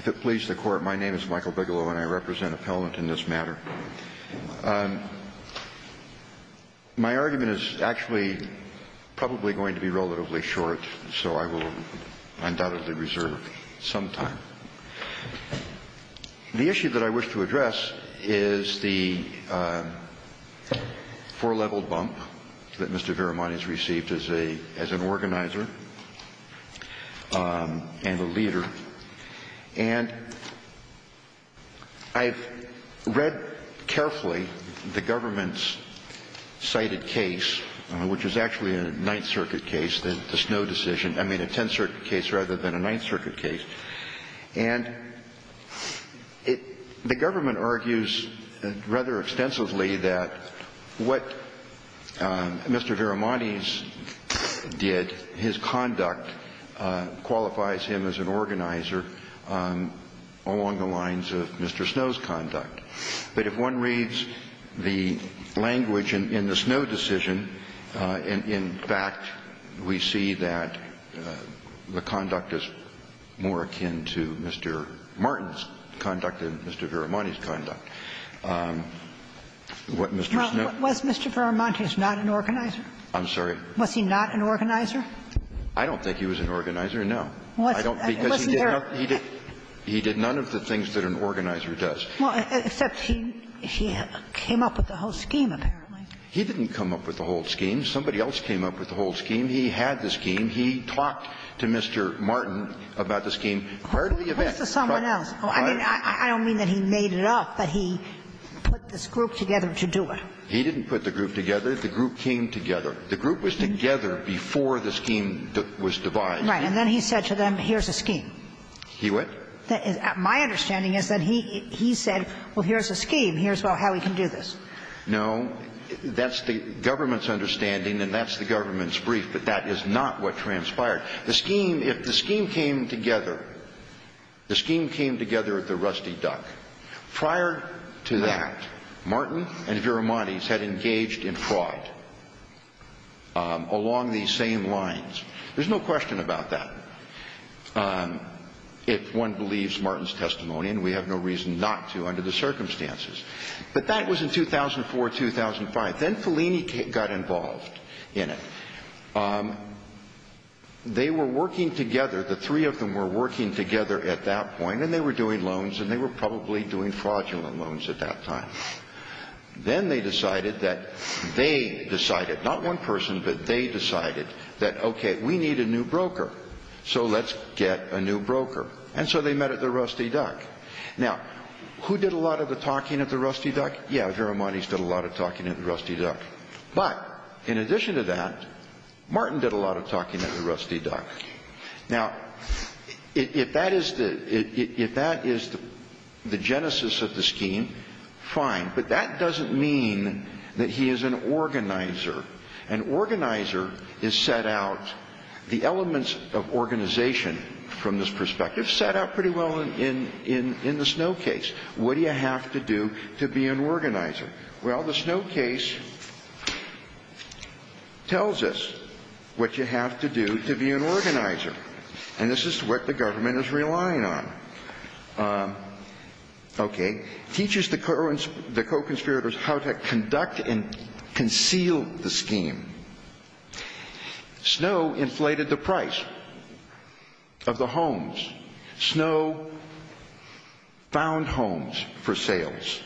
If it pleases the Court, my name is Michael Bigelow, and I represent appellant in this matter. My argument is actually probably going to be relatively short, so I will undoubtedly reserve some time. The issue that I wish to address is the four-level bump that Mr. Viramontes did, his conduct qualifies him as an organizer. And I've read carefully the government's cited case, which is actually a Ninth Circuit case, the Snow decision, I mean, a Tenth Circuit case rather than a Ninth Circuit case. And the government argues rather extensively that what Mr. Viramontes did, his conduct qualifies him as an organizer along the lines of Mr. Snow's conduct. But if one reads the language in the Snow decision, in fact, we see that the conduct is more akin to Mr. Martin's conduct than Mr. Viramontes' conduct. What Mr. Snow did was not an organizer. I'm sorry. Was he not an organizer? I don't think he was an organizer, no. He did none of the things that an organizer does. Well, except he came up with the whole scheme, apparently. He didn't come up with the whole scheme. Somebody else came up with the whole scheme. He had the scheme. He talked to Mr. Martin about the scheme prior to the event. Where's the someone else? I mean, I don't mean that he made it up, but he put this group together to do it. He didn't put the group together. The group came together. The group was together before the scheme was devised. And then he said to them, here's a scheme. He what? My understanding is that he said, well, here's a scheme. Here's how we can do this. No. That's the government's understanding, and that's the government's brief. But that is not what transpired. The scheme, if the scheme came together, the scheme came together at the Rusty Duck. Prior to that, Martin and Viramontes had engaged in fraud along these same lines. There's no question about that. If one believes Martin's testimony, and we have no reason not to under the circumstances. But that was in 2004, 2005. Then Fellini got involved in it. They were working together. The three of them were working together at that point, and they were doing loans, and they were probably doing fraudulent loans at that time. Then they decided that they decided, not one person, but they decided that, okay, we need a new broker. So let's get a new broker. And so they met at the Rusty Duck. Now, who did a lot of the talking at the Rusty Duck? Yeah, Viramontes did a lot of talking at the Rusty Duck. But in addition to that, Martin did a lot of talking at the Rusty Duck. Now, if that is the genesis of the scheme, fine. But that doesn't mean that he is an organizer. An organizer is set out, the elements of organization from this perspective, set out pretty well in the Snow Case. What do you have to do to be an organizer? Well, the Snow Case tells us what you have to do to be an organizer. And this is what the government is relying on. Okay. It teaches the co-conspirators how to conduct and conceal the scheme. Snow inflated the price of the homes. Snow found homes for sales.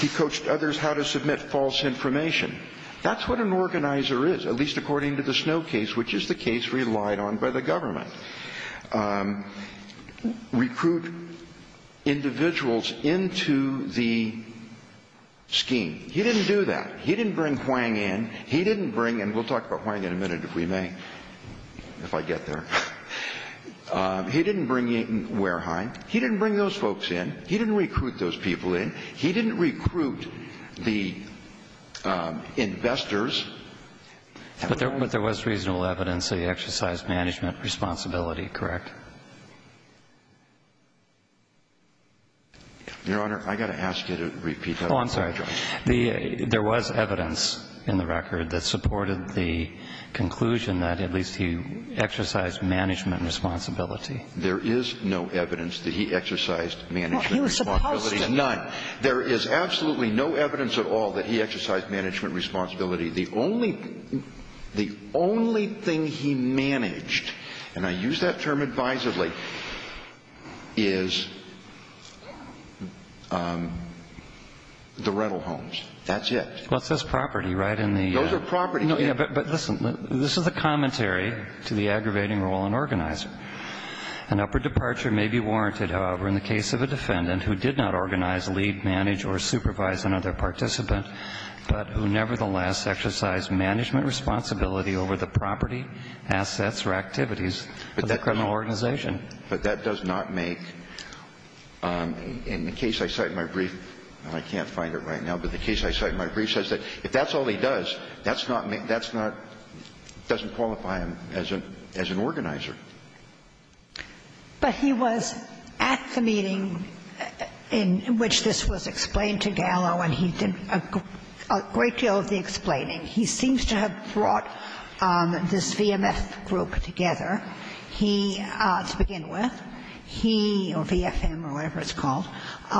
He coached others how to submit false information. That's what an organizer is, at least according to the Snow Case, which is the case relied on by the government. Recruit individuals into the scheme. He didn't do that. He didn't bring Huang in. He didn't bring in – we'll talk about Huang in a minute, if we may, if I get there. He didn't bring in Wareheim. He didn't bring those folks in. He didn't recruit those people in. He didn't recruit the investors. But there was reasonable evidence that he exercised management responsibility, correct? Your Honor, I've got to ask you to repeat that. Oh, I'm sorry. There was evidence in the record that supported the conclusion that at least he exercised management responsibility. There is no evidence that he exercised management responsibility. Well, he was supposed to. None. There is absolutely no evidence at all that he exercised management responsibility. The only thing he managed, and I use that term advisedly, is the rental homes. That's it. Well, it says property, right? Those are property. But listen, this is a commentary to the aggravating role an organizer. An upper departure may be warranted, however, in the case of a defendant who did not organize, lead, manage, or supervise another participant, but who nevertheless exercised management responsibility over the property, assets, or activities of that criminal organization. But that does not make, in the case I cite in my brief, and I can't find it right now, but the case I cite in my brief says that if that's all he does, that's not doesn't qualify him as an organizer. But he was at the meeting in which this was explained to Gallo, and he did a great deal of the explaining. He seems to have brought this VMF group together. He, to begin with, he, or VFM or whatever it's called. VFM.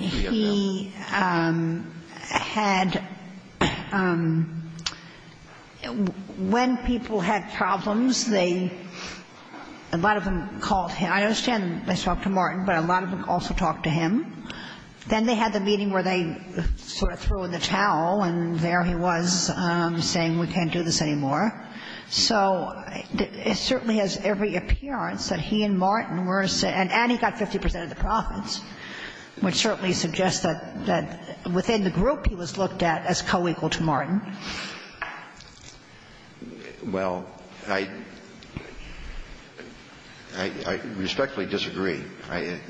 He had, when people had problems, they, a lot of them called him. I understand they talked to Martin, but a lot of them also talked to him. Then they had the meeting where they sort of threw in the towel, and there he was saying we can't do this anymore. So it certainly has every appearance that he and Martin were, and he got 50 percent of the profits, which certainly suggests that within the group, he was looked at as co-equal to Martin. Well, I respectfully disagree,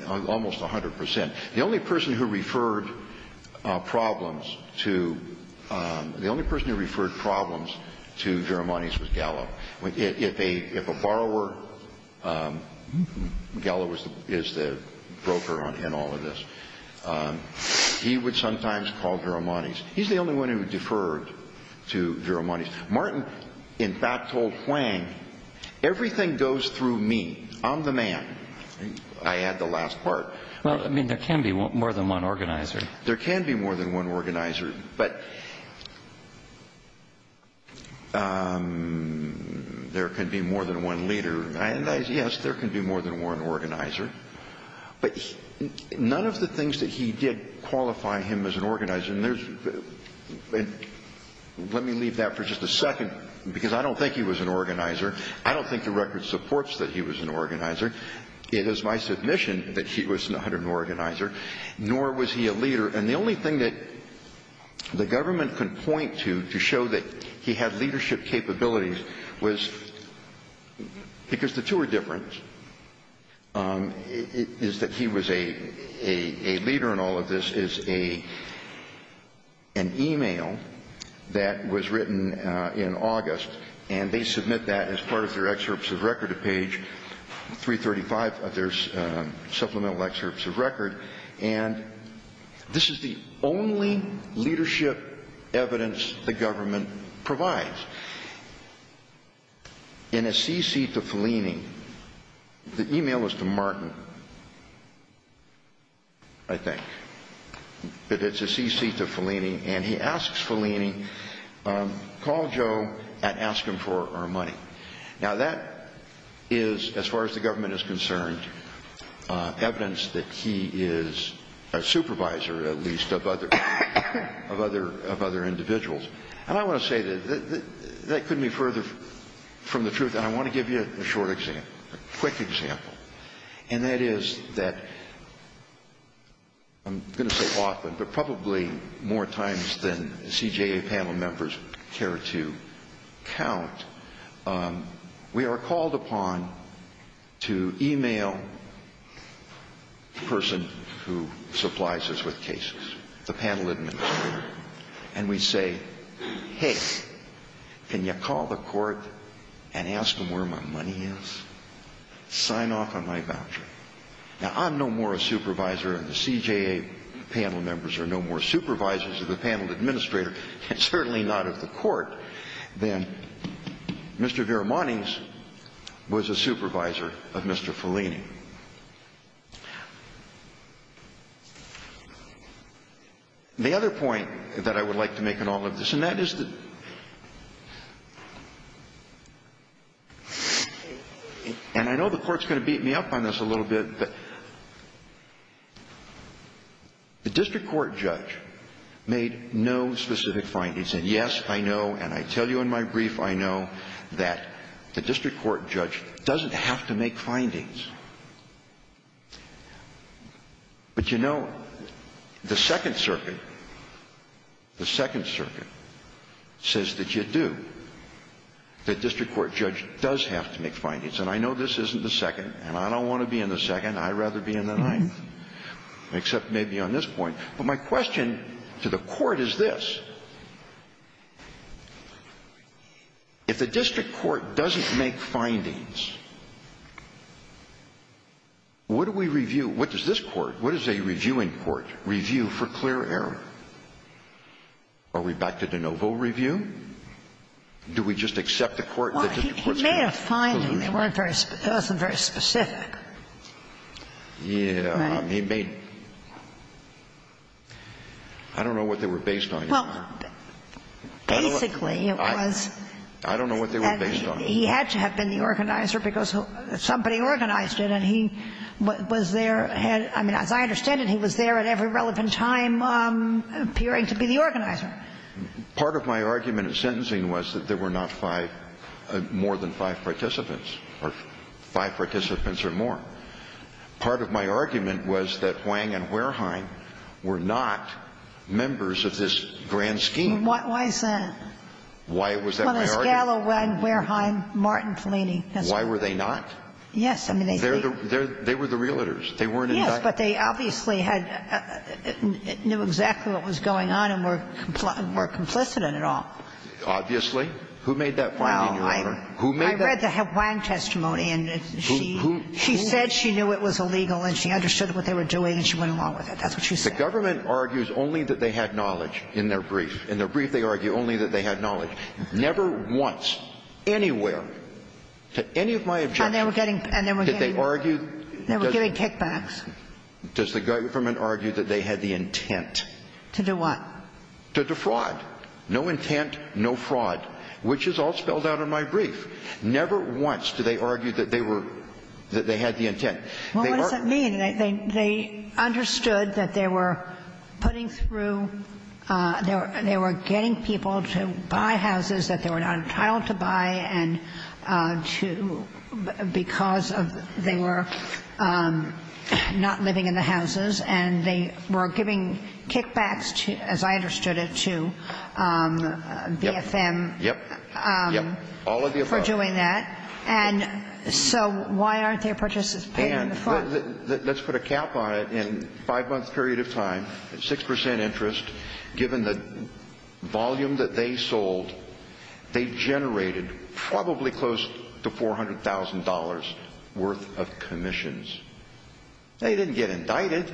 almost 100 percent. The only person who referred problems to, the only person who referred problems to Jaramonis was Gallo. If a borrower, Gallo is the broker in all of this. He would sometimes call Jaramonis. He's the only one who deferred to Jaramonis. Martin, in fact, told Huang, everything goes through me. I'm the man. I add the last part. Well, I mean, there can be more than one organizer. There can be more than one organizer, but there can be more than one leader. Yes, there can be more than one organizer, but none of the things that he did qualify him as an organizer. And let me leave that for just a second, because I don't think he was an organizer. I don't think the record supports that he was an organizer. It is my submission that he was not an organizer, nor was he a leader. And the only thing that the government can point to to show that he had leadership capabilities was, because the two are different, is that he was a leader in all of this, is an e-mail that was written in August, and they submit that as part of their 235 of their supplemental excerpts of record. And this is the only leadership evidence the government provides. In a CC to Fellini, the e-mail was to Martin, I think, but it's a CC to Fellini, and he asks Fellini, call Joe and ask him for our money. Now, that is, as far as the government is concerned, evidence that he is a supervisor, at least, of other individuals. And I want to say that that couldn't be further from the truth, and I want to give you a short example, a quick example, and that is that I'm going to say often, but probably more times than CJA panel members care to count, we are called upon to e-mail the person who supplies us with cases, the panel administrator, and we say, hey, can you call the court and ask them where my money is? Sign off on my voucher. Now, I'm no more a supervisor, and the CJA panel members are no more supervisors of the panel administrator, and certainly not of the court, than Mr. Vera Monning's was a supervisor of Mr. Fellini. The other point that I would like to make in all of this, and that is that, and I know the panel members know this a little bit, but the district court judge made no specific findings, and yes, I know, and I tell you in my brief, I know, that the district court judge doesn't have to make findings. But you know, the Second Circuit, the Second Circuit, says that you do, that I'd rather be in the Ninth, except maybe on this point. But my question to the court is this. If the district court doesn't make findings, what do we review? What does this court, what does a reviewing court review for clear error? Are we back to de novo review? Do we just accept the court that the district court judge made no findings? I mean, they weren't very specific. Yeah. Right. I mean, I don't know what they were based on. Well, basically, it was. I don't know what they were based on. He had to have been the organizer because somebody organized it, and he was there and, I mean, as I understand it, he was there at every relevant time appearing to be the organizer. But part of my argument in sentencing was that there were not five, more than five participants, or five participants or more. Part of my argument was that Wang and Wertheim were not members of this grand scheme. Why is that? Why was that my argument? Well, there's Gallo, Wang, Wertheim, Martin, Fellini. Why were they not? Yes. They were the realtors. They weren't in fact. Yes, but they obviously knew exactly what was going on and were complicit in it all. Obviously. Who made that finding, Your Honor? Well, I read the Wang testimony, and she said she knew it was illegal and she understood what they were doing and she went along with it. That's what she said. The government argues only that they had knowledge in their brief. In their brief, they argue only that they had knowledge. Never once, anywhere, to any of my objections, did they argue. They were giving kickbacks. Does the government argue that they had the intent? To do what? To defraud. No intent, no fraud, which is all spelled out in my brief. Never once do they argue that they were, that they had the intent. Well, what does that mean? They understood that they were putting through, they were getting people to buy houses that they were not entitled to buy and to, because they were not living in the houses and they were giving kickbacks to, as I understood it, to BFM for doing that, and so why aren't their purchases paid in the fund? Let's put a cap on it. In a five-month period of time, 6% interest, given the volume that they sold, they generated probably close to $400,000 worth of commissions. They didn't get indicted.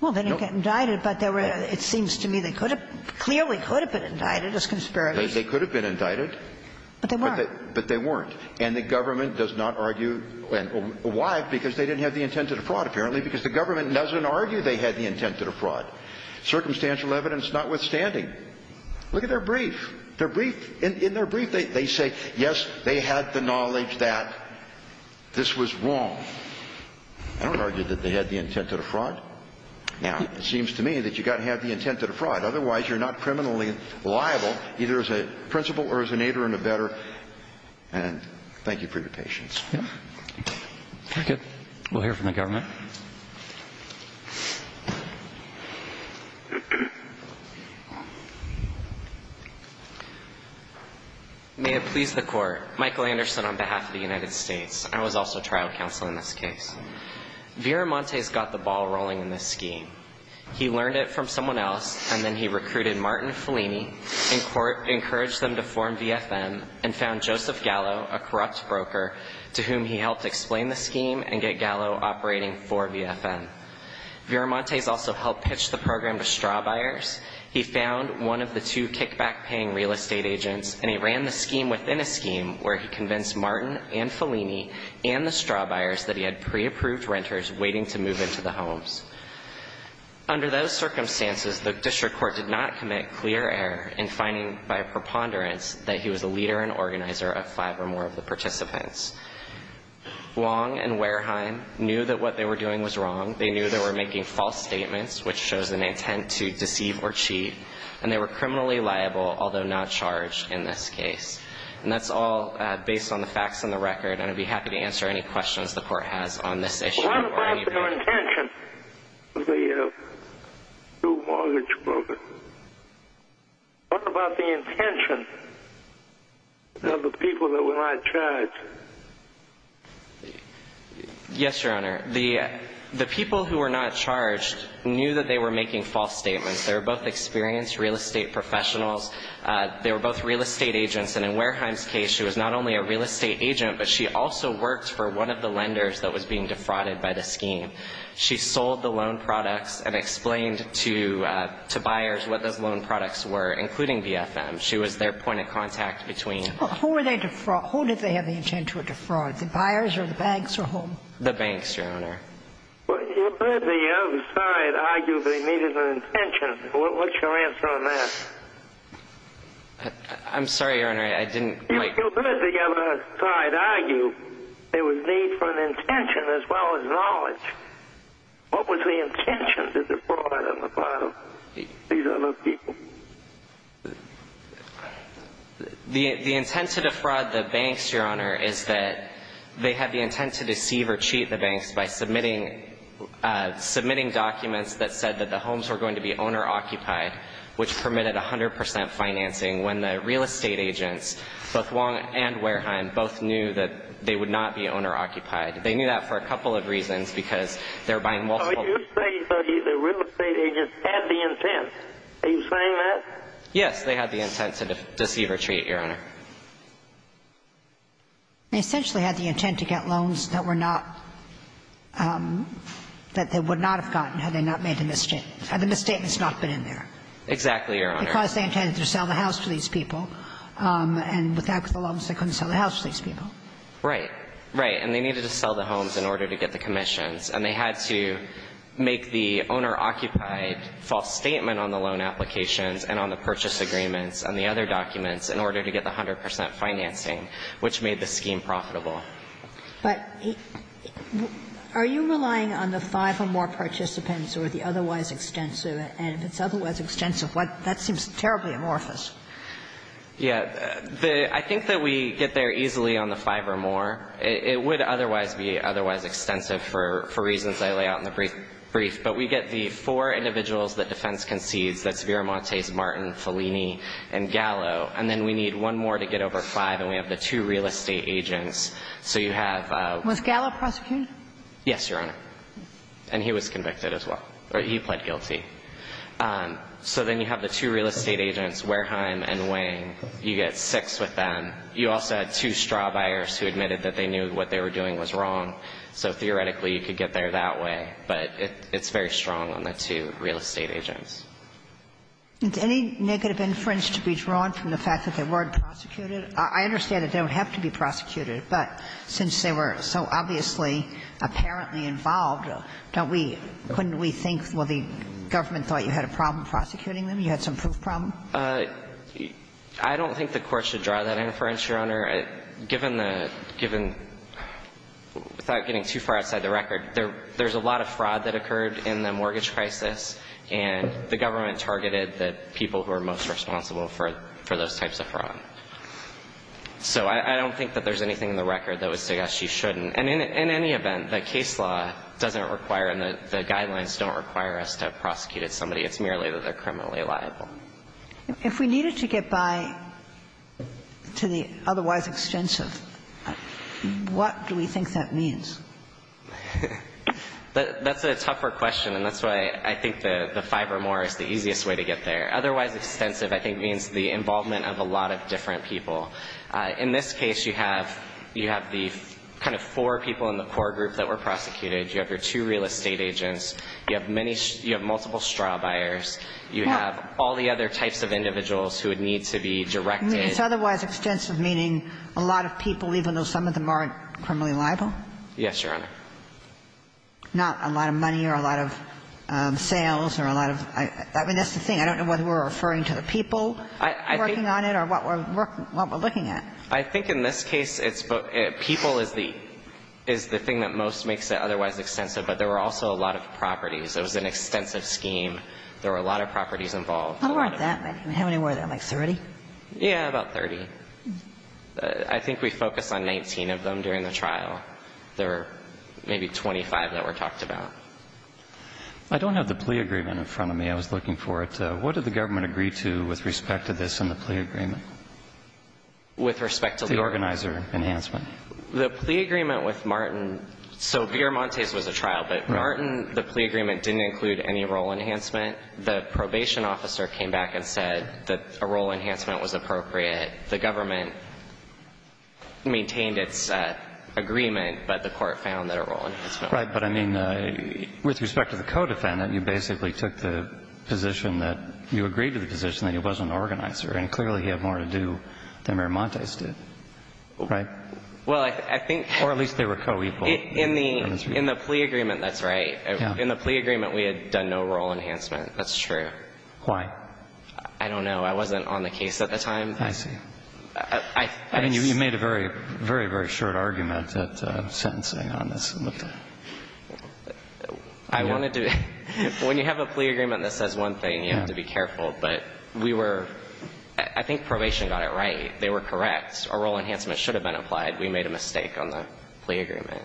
Well, they didn't get indicted, but there were, it seems to me, they could have, clearly could have been indicted as conspirators. They could have been indicted. But they weren't. But they weren't. And the government does not argue, and why? Because they didn't have the intent to defraud, apparently, because the government doesn't argue they had the intent to defraud. Circumstantial evidence notwithstanding. Look at their brief. Their brief, in their brief, they say, yes, they had the knowledge that this was wrong. I don't argue that they had the intent to defraud. Now, it seems to me that you've got to have the intent to defraud. Otherwise, you're not criminally liable, either as a principal or as an aider and a better, and thank you for your patience. Yeah. We'll hear from the government. May it please the court. Michael Anderson on behalf of the United States. I was also trial counsel in this case. Viramonte's got the ball rolling in this scheme. He learned it from someone else, and then he recruited Martin Fellini in court, encouraged them to form VFM, and found Joseph Gallo, a corrupt broker, to whom he helped explain the scheme and get Gallo operating for VFM. Viramonte's also helped pitch the program to straw buyers. He found one of the two kickback-paying real estate agents, and he ran the scheme within a scheme where he convinced Martin and Fellini and the straw buyers that he had pre-approved renters waiting to move into the homes. Under those circumstances, the district court did not commit clear error in finding by preponderance that he was a leader and organizer of five or more of the participants. Wong and Wareheim knew that what they were doing was wrong. They knew they were making false statements, which shows an intent to deceive or cheat, and they were criminally liable, although not charged in this case. And that's all based on the facts and the record, and I'd be happy to answer any questions the court has on this issue or anything. What is your intention of the new mortgage broker? What about the intention of the people that were not charged? Yes, Your Honor. The people who were not charged knew that they were making false statements. They were both experienced real estate professionals. They were both real estate agents, and in Wareheim's case, she was not only a real estate She sold the loan products and explained to buyers what those loan products were, including BFM. She was their point of contact between Who did they have the intent to defraud? The buyers or the banks or whom? The banks, Your Honor. You heard the other side argue that they needed an intention. What's your answer on that? I'm sorry, Your Honor. I didn't like You heard the other side argue there was need for an intention as well as knowledge. What was the intention to defraud on the part of these other people? The intent to defraud the banks, Your Honor, is that they had the intent to deceive or cheat the banks by submitting documents that said that the homes were going to be owner-occupied, which permitted 100 percent financing, when the real estate agents, both Wong and Wareheim, both knew that they would not be owner-occupied. They knew that for a couple of reasons, because they're buying multiple So you're saying that the real estate agents had the intent. Are you saying that? Yes. They had the intent to deceive or cheat, Your Honor. They essentially had the intent to get loans that they would not have gotten had they not made a misstatement, had the misstatement not been in there. Exactly, Your Honor. Because they intended to sell the house to these people, and with that comes the loans they couldn't sell the house to these people. Right. Right. And they needed to sell the homes in order to get the commissions, and they had to make the owner-occupied false statement on the loan applications and on the purchase agreements and the other documents in order to get the 100 percent financing, which made the scheme profitable. But are you relying on the five or more participants or the otherwise extensive? And if it's otherwise extensive, that seems terribly amorphous. Yeah. I think that we get there easily on the five or more. It would otherwise be otherwise extensive for reasons I lay out in the brief. But we get the four individuals that defense concedes, that's Viramontes, Martin, Fellini, and Gallo. And then we need one more to get over five, and we have the two real estate agents. So you have Was Gallo prosecuted? Yes, Your Honor. And he was convicted as well, or he pled guilty. So then you have the two real estate agents, Wareheim and Wang. You get six with them. You also had two straw buyers who admitted that they knew what they were doing was wrong. So theoretically, you could get there that way, but it's very strong on the two real estate agents. Is any negative inference to be drawn from the fact that they weren't prosecuted? I understand that they don't have to be prosecuted, but since they were so obviously apparently involved, don't we – couldn't we think, well, the government thought you had a problem prosecuting them, you had some proof problem? I don't think the Court should draw that inference, Your Honor, given the – given – without getting too far outside the record, there's a lot of fraud that occurred in the mortgage crisis, and the government targeted the people who are most responsible for those types of fraud. So I don't think that there's anything in the record that would suggest you shouldn't And in any event, the case law doesn't require and the guidelines don't require us to have prosecuted somebody. It's merely that they're criminally liable. If we needed to get by to the otherwise extensive, what do we think that means? That's a tougher question, and that's why I think the five or more is the easiest way to get there. Otherwise extensive, I think, means the involvement of a lot of different people. In this case, you have – you have the kind of four people in the core group that were prosecuted. You have your two real estate agents. You have many – you have multiple straw buyers. You have all the other types of individuals who would need to be directed. It's otherwise extensive, meaning a lot of people, even though some of them aren't criminally liable? Yes, Your Honor. Not a lot of money or a lot of sales or a lot of – I mean, that's the thing. I don't know whether we're referring to the people working on it or what we're looking at. I think in this case, it's – people is the – is the thing that most makes it otherwise extensive. But there were also a lot of properties. It was an extensive scheme. There were a lot of properties involved. How many were there? Like 30? Yeah, about 30. I think we focused on 19 of them during the trial. There were maybe 25 that were talked about. I don't have the plea agreement in front of me. I was looking for it. What did the government agree to with respect to this in the plea agreement? With respect to the organizer enhancement? The plea agreement with Martin – so Viramontes was a trial, but Martin, the plea agreement didn't include any role enhancement. The probation officer came back and said that a role enhancement was appropriate. The government maintained its agreement, but the court found that a role enhancement was appropriate. Right. Yeah, but I mean, with respect to the co-defendant, you basically took the position that – you agreed to the position that he was an organizer, and clearly he had more to do than Viramontes did. Right? Well, I think – Or at least they were co-equal. In the – in the plea agreement, that's right. In the plea agreement, we had done no role enhancement. That's true. Why? I don't know. I wasn't on the case at the time. I see. I – I wanted to – when you have a plea agreement that says one thing, you have to be careful, but we were – I think probation got it right. They were correct. A role enhancement should have been applied. We made a mistake on the plea agreement.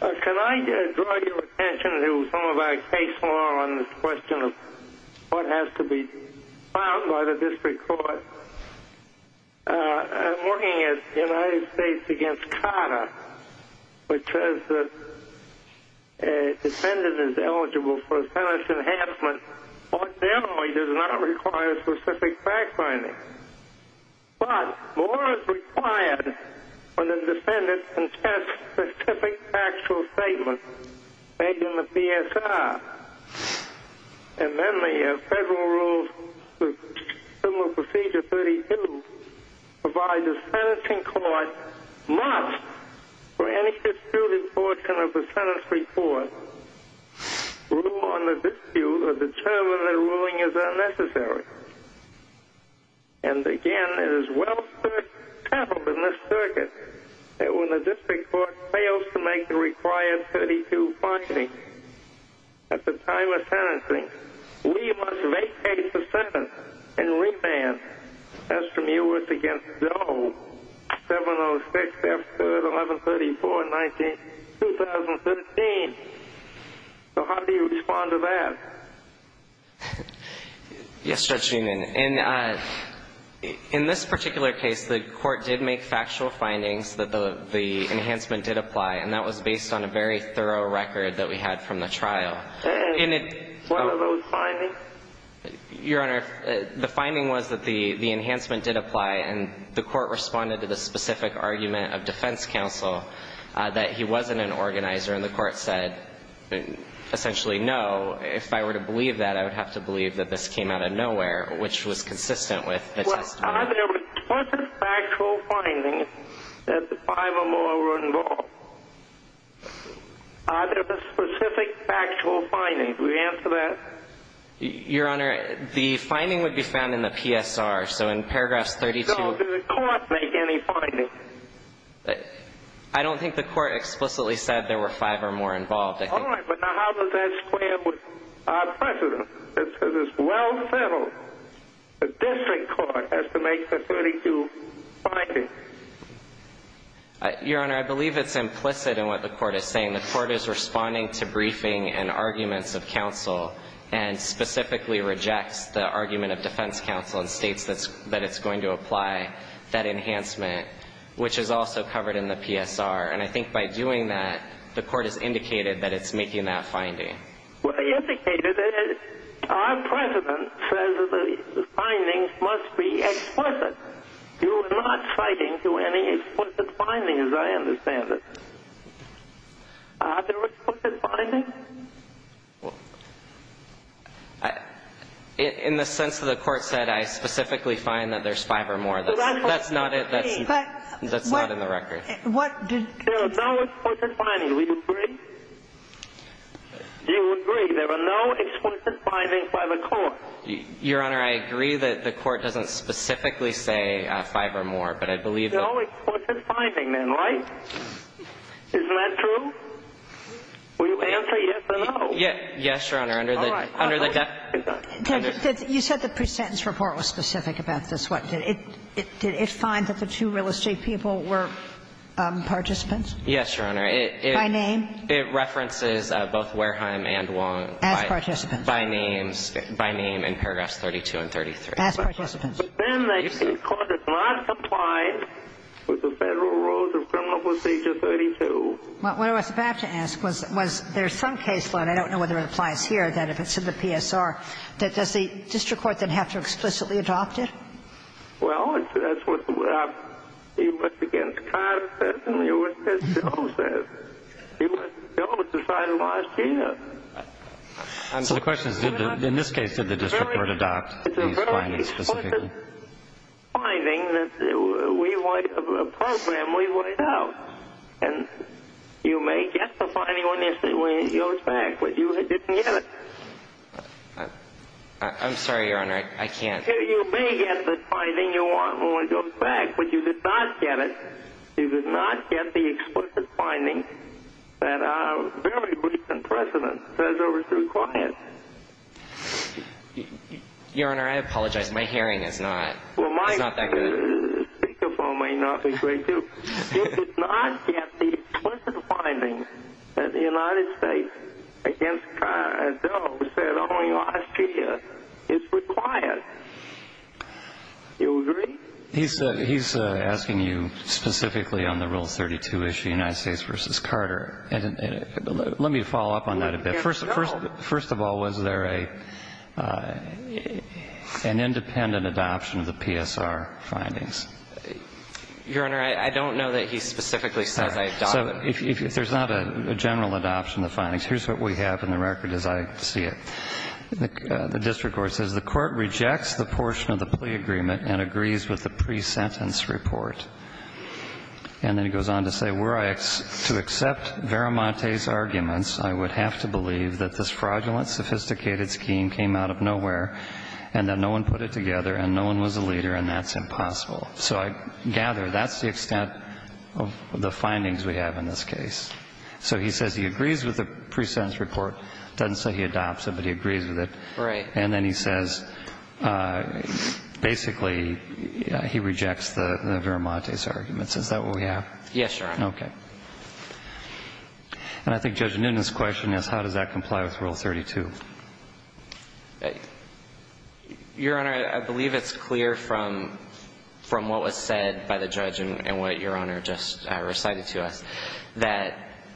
Can I draw your attention to some of our case law on this question of what has to be found by the district court? I'm looking at the United States against Carter, which says that a defendant is eligible for a sentence enhancement, but generally does not require specific fact-finding. But more is required when a defendant contests specific factual statements made in the PSR. And then they have federal rules similar to Procedure 32, provide the sentencing court must, for any disputed portion of the sentence report, rule on the dispute or determine that a ruling is unnecessary. And, again, it is well-staffled in this circuit that when the district court fails to make the required 32 findings at the time of sentencing, we must vacate the sentence and remand. As from U.S. against Doe, 706, Chapter 1134, 19, 2013. So how do you respond to that? Yes, Judge Newman. In this particular case, the court did make factual findings that the enhancement did based on a very thorough record that we had from the trial. And what are those findings? Your Honor, the finding was that the enhancement did apply, and the court responded to the specific argument of defense counsel that he wasn't an organizer. And the court said, essentially, no, if I were to believe that, I would have to believe that this came out of nowhere, which was consistent with the testimony. Are there explicit factual findings that the five or more were involved? Are there specific factual findings? Will you answer that? Your Honor, the finding would be found in the PSR. So in paragraphs 32... So did the court make any findings? I don't think the court explicitly said there were five or more involved, I think. All right, but now how does that square with precedent? This is well settled. The district court has to make the 32 findings. Your Honor, I believe it's implicit in what the court is saying. The court is responding to briefing and arguments of counsel and specifically rejects the argument of defense counsel and states that it's going to apply that enhancement, which is also covered in the PSR. And I think by doing that, the court has indicated that it's making that finding. Well, it indicated that our precedent says that the findings must be explicit. You are not citing to any explicit findings, I understand it. Are there explicit findings? In the sense that the court said I specifically find that there's five or more, that's not in the record. There are no explicit findings. Do we agree? Do you agree there are no explicit findings by the court? Your Honor, I agree that the court doesn't specifically say five or more, but I believe that... No explicit finding then, right? Isn't that true? Will you answer yes or no? Yes, Your Honor. All right. You said the presentence report was specific about this. Did it find that the two real estate people were participants? Yes, Your Honor. By name? It references both Wareheim and Wong. As participants. By name in paragraphs 32 and 33. As participants. But then the court did not comply with the Federal Rules of Criminal Procedure 32. What I was about to ask was there's some caseload, I don't know whether it applies here, that if it's in the PSR, that does the district court then have to explicitly adopt it? Well, that's what the... It was against Codd's says and it was against Hill's says. It was Hill that decided last year. So the question is, in this case, did the district court adopt these findings specifically? It's a very explicit finding that we... A program we laid out. And you may get the finding when it goes back, but you didn't get it. I'm sorry, Your Honor. I can't... You may get the finding you want when it goes back, but you did not get it. You did not get the explicit finding that our very recent precedent says are required. Your Honor, I apologize. My hearing is not that good. Well, my speaker phone may not be great, too. You did not get the explicit finding that the United States against Codd's said only Austria is required. You agree? He's asking you specifically on the Rule 32 issue, United States versus Carter. Let me follow up on that a bit. First of all, was there an independent adoption of the PSR findings? Your Honor, I don't know that he specifically says I adopted... So if there's not a general adoption of the findings, here's what we have in the record as I see it. The district court says the court rejects the portion of the plea agreement and agrees with the pre-sentence report. And then he goes on to say, to accept Veramonte's arguments, I would have to believe that this fraudulent, sophisticated scheme came out of nowhere and that no one put it together and no one was a leader and that's impossible. So I gather that's the extent of the findings we have in this case. So he says he agrees with the pre-sentence report. Doesn't say he adopts it, but he agrees with it. Right. And then he says basically he rejects the Veramonte's arguments. Is that what we have? Yes, Your Honor. Okay. And I think Judge Nunes' question is how does that comply with Rule 32? Your Honor, I believe it's clear from what was said by the judge and what Your Honor, that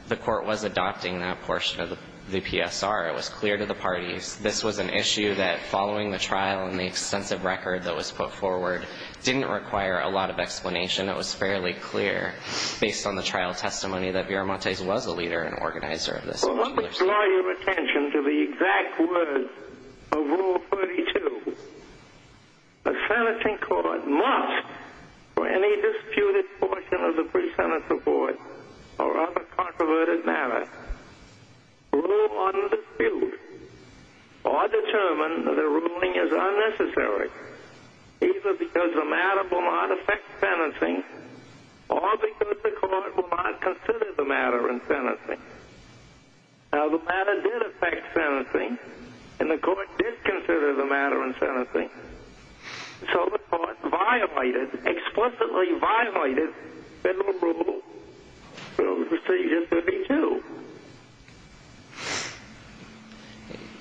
the court was adopting that portion of the PSR. It was clear to the parties. This was an issue that following the trial and the extensive record that was put forward didn't require a lot of explanation. It was fairly clear based on the trial testimony that Veramonte was a leader and organizer of this. Well, let me draw your attention to the exact words of Rule 32. A sentencing court must, for any disputed portion of the pre-sentence report, or other controverted matter, rule on dispute or determine that a ruling is unnecessary either because the matter will not affect sentencing or because the court will not consider the matter in sentencing. Now, the matter did affect sentencing and the court did consider the matter in sentencing. So the court violated, explicitly violated, the Rule 32.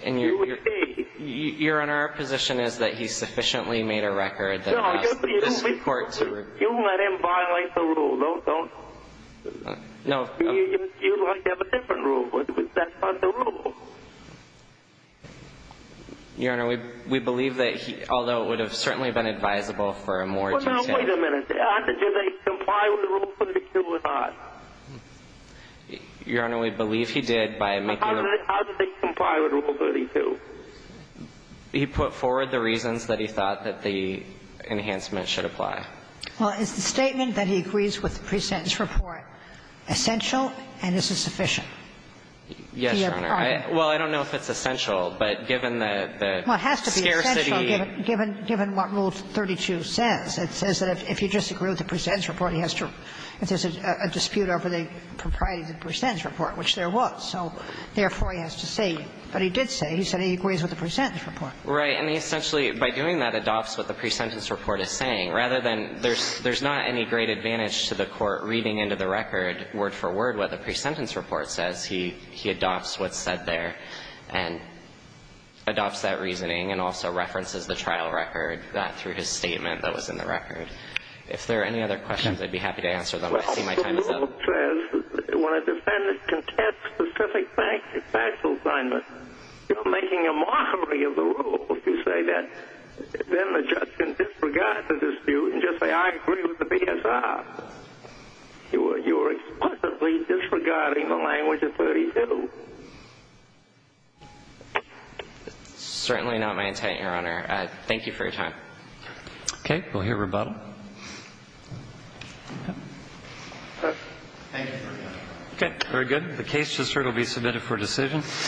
And Your Honor, our position is that he sufficiently made a record that asked this court to review. No, you let him violate the Rule. Don't, don't. No. You'd like to have a different Rule, but that's not the Rule. Your Honor, we, we believe that he, although it would have certainly been advisable for a more detailed. Well, now, wait a minute. How did they comply with Rule 32 or not? Your Honor, we believe he did by making a. How did they comply with Rule 32? He put forward the reasons that he thought that the enhancement should apply. Well, is the statement that he agrees with the pre-sentence report essential and is it sufficient? Yes, Your Honor. Well, I don't know if it's essential, but given the, the scarcity. Well, it has to be essential given, given what Rule 32 says. It says that if you disagree with the pre-sentence report, he has to, it says a dispute over the propriety of the pre-sentence report, which there was. So therefore, he has to say, but he did say, he said he agrees with the pre-sentence report. Right. And he essentially, by doing that, adopts what the pre-sentence report is saying rather than, there's, there's not any great advantage to the court reading into the record word for word what the pre-sentence report says. He, he adopts what's said there and adopts that reasoning and also references the trial record through his statement that was in the record. If there are any other questions, I'd be happy to answer them. I see my time is up. Well, Rule 32 says that when a defendant contests specific factual assignment, you're making a mockery of the rule if you say that. Then the judge can disregard the dispute and just say, I agree with the PSR. You are, you are explicitly disregarding the language of 32. Certainly not my intent, Your Honor. Thank you for your time. Okay. We'll hear rebuttal. Thank you very much. Okay. Very good. The case to assert will be submitted for decision.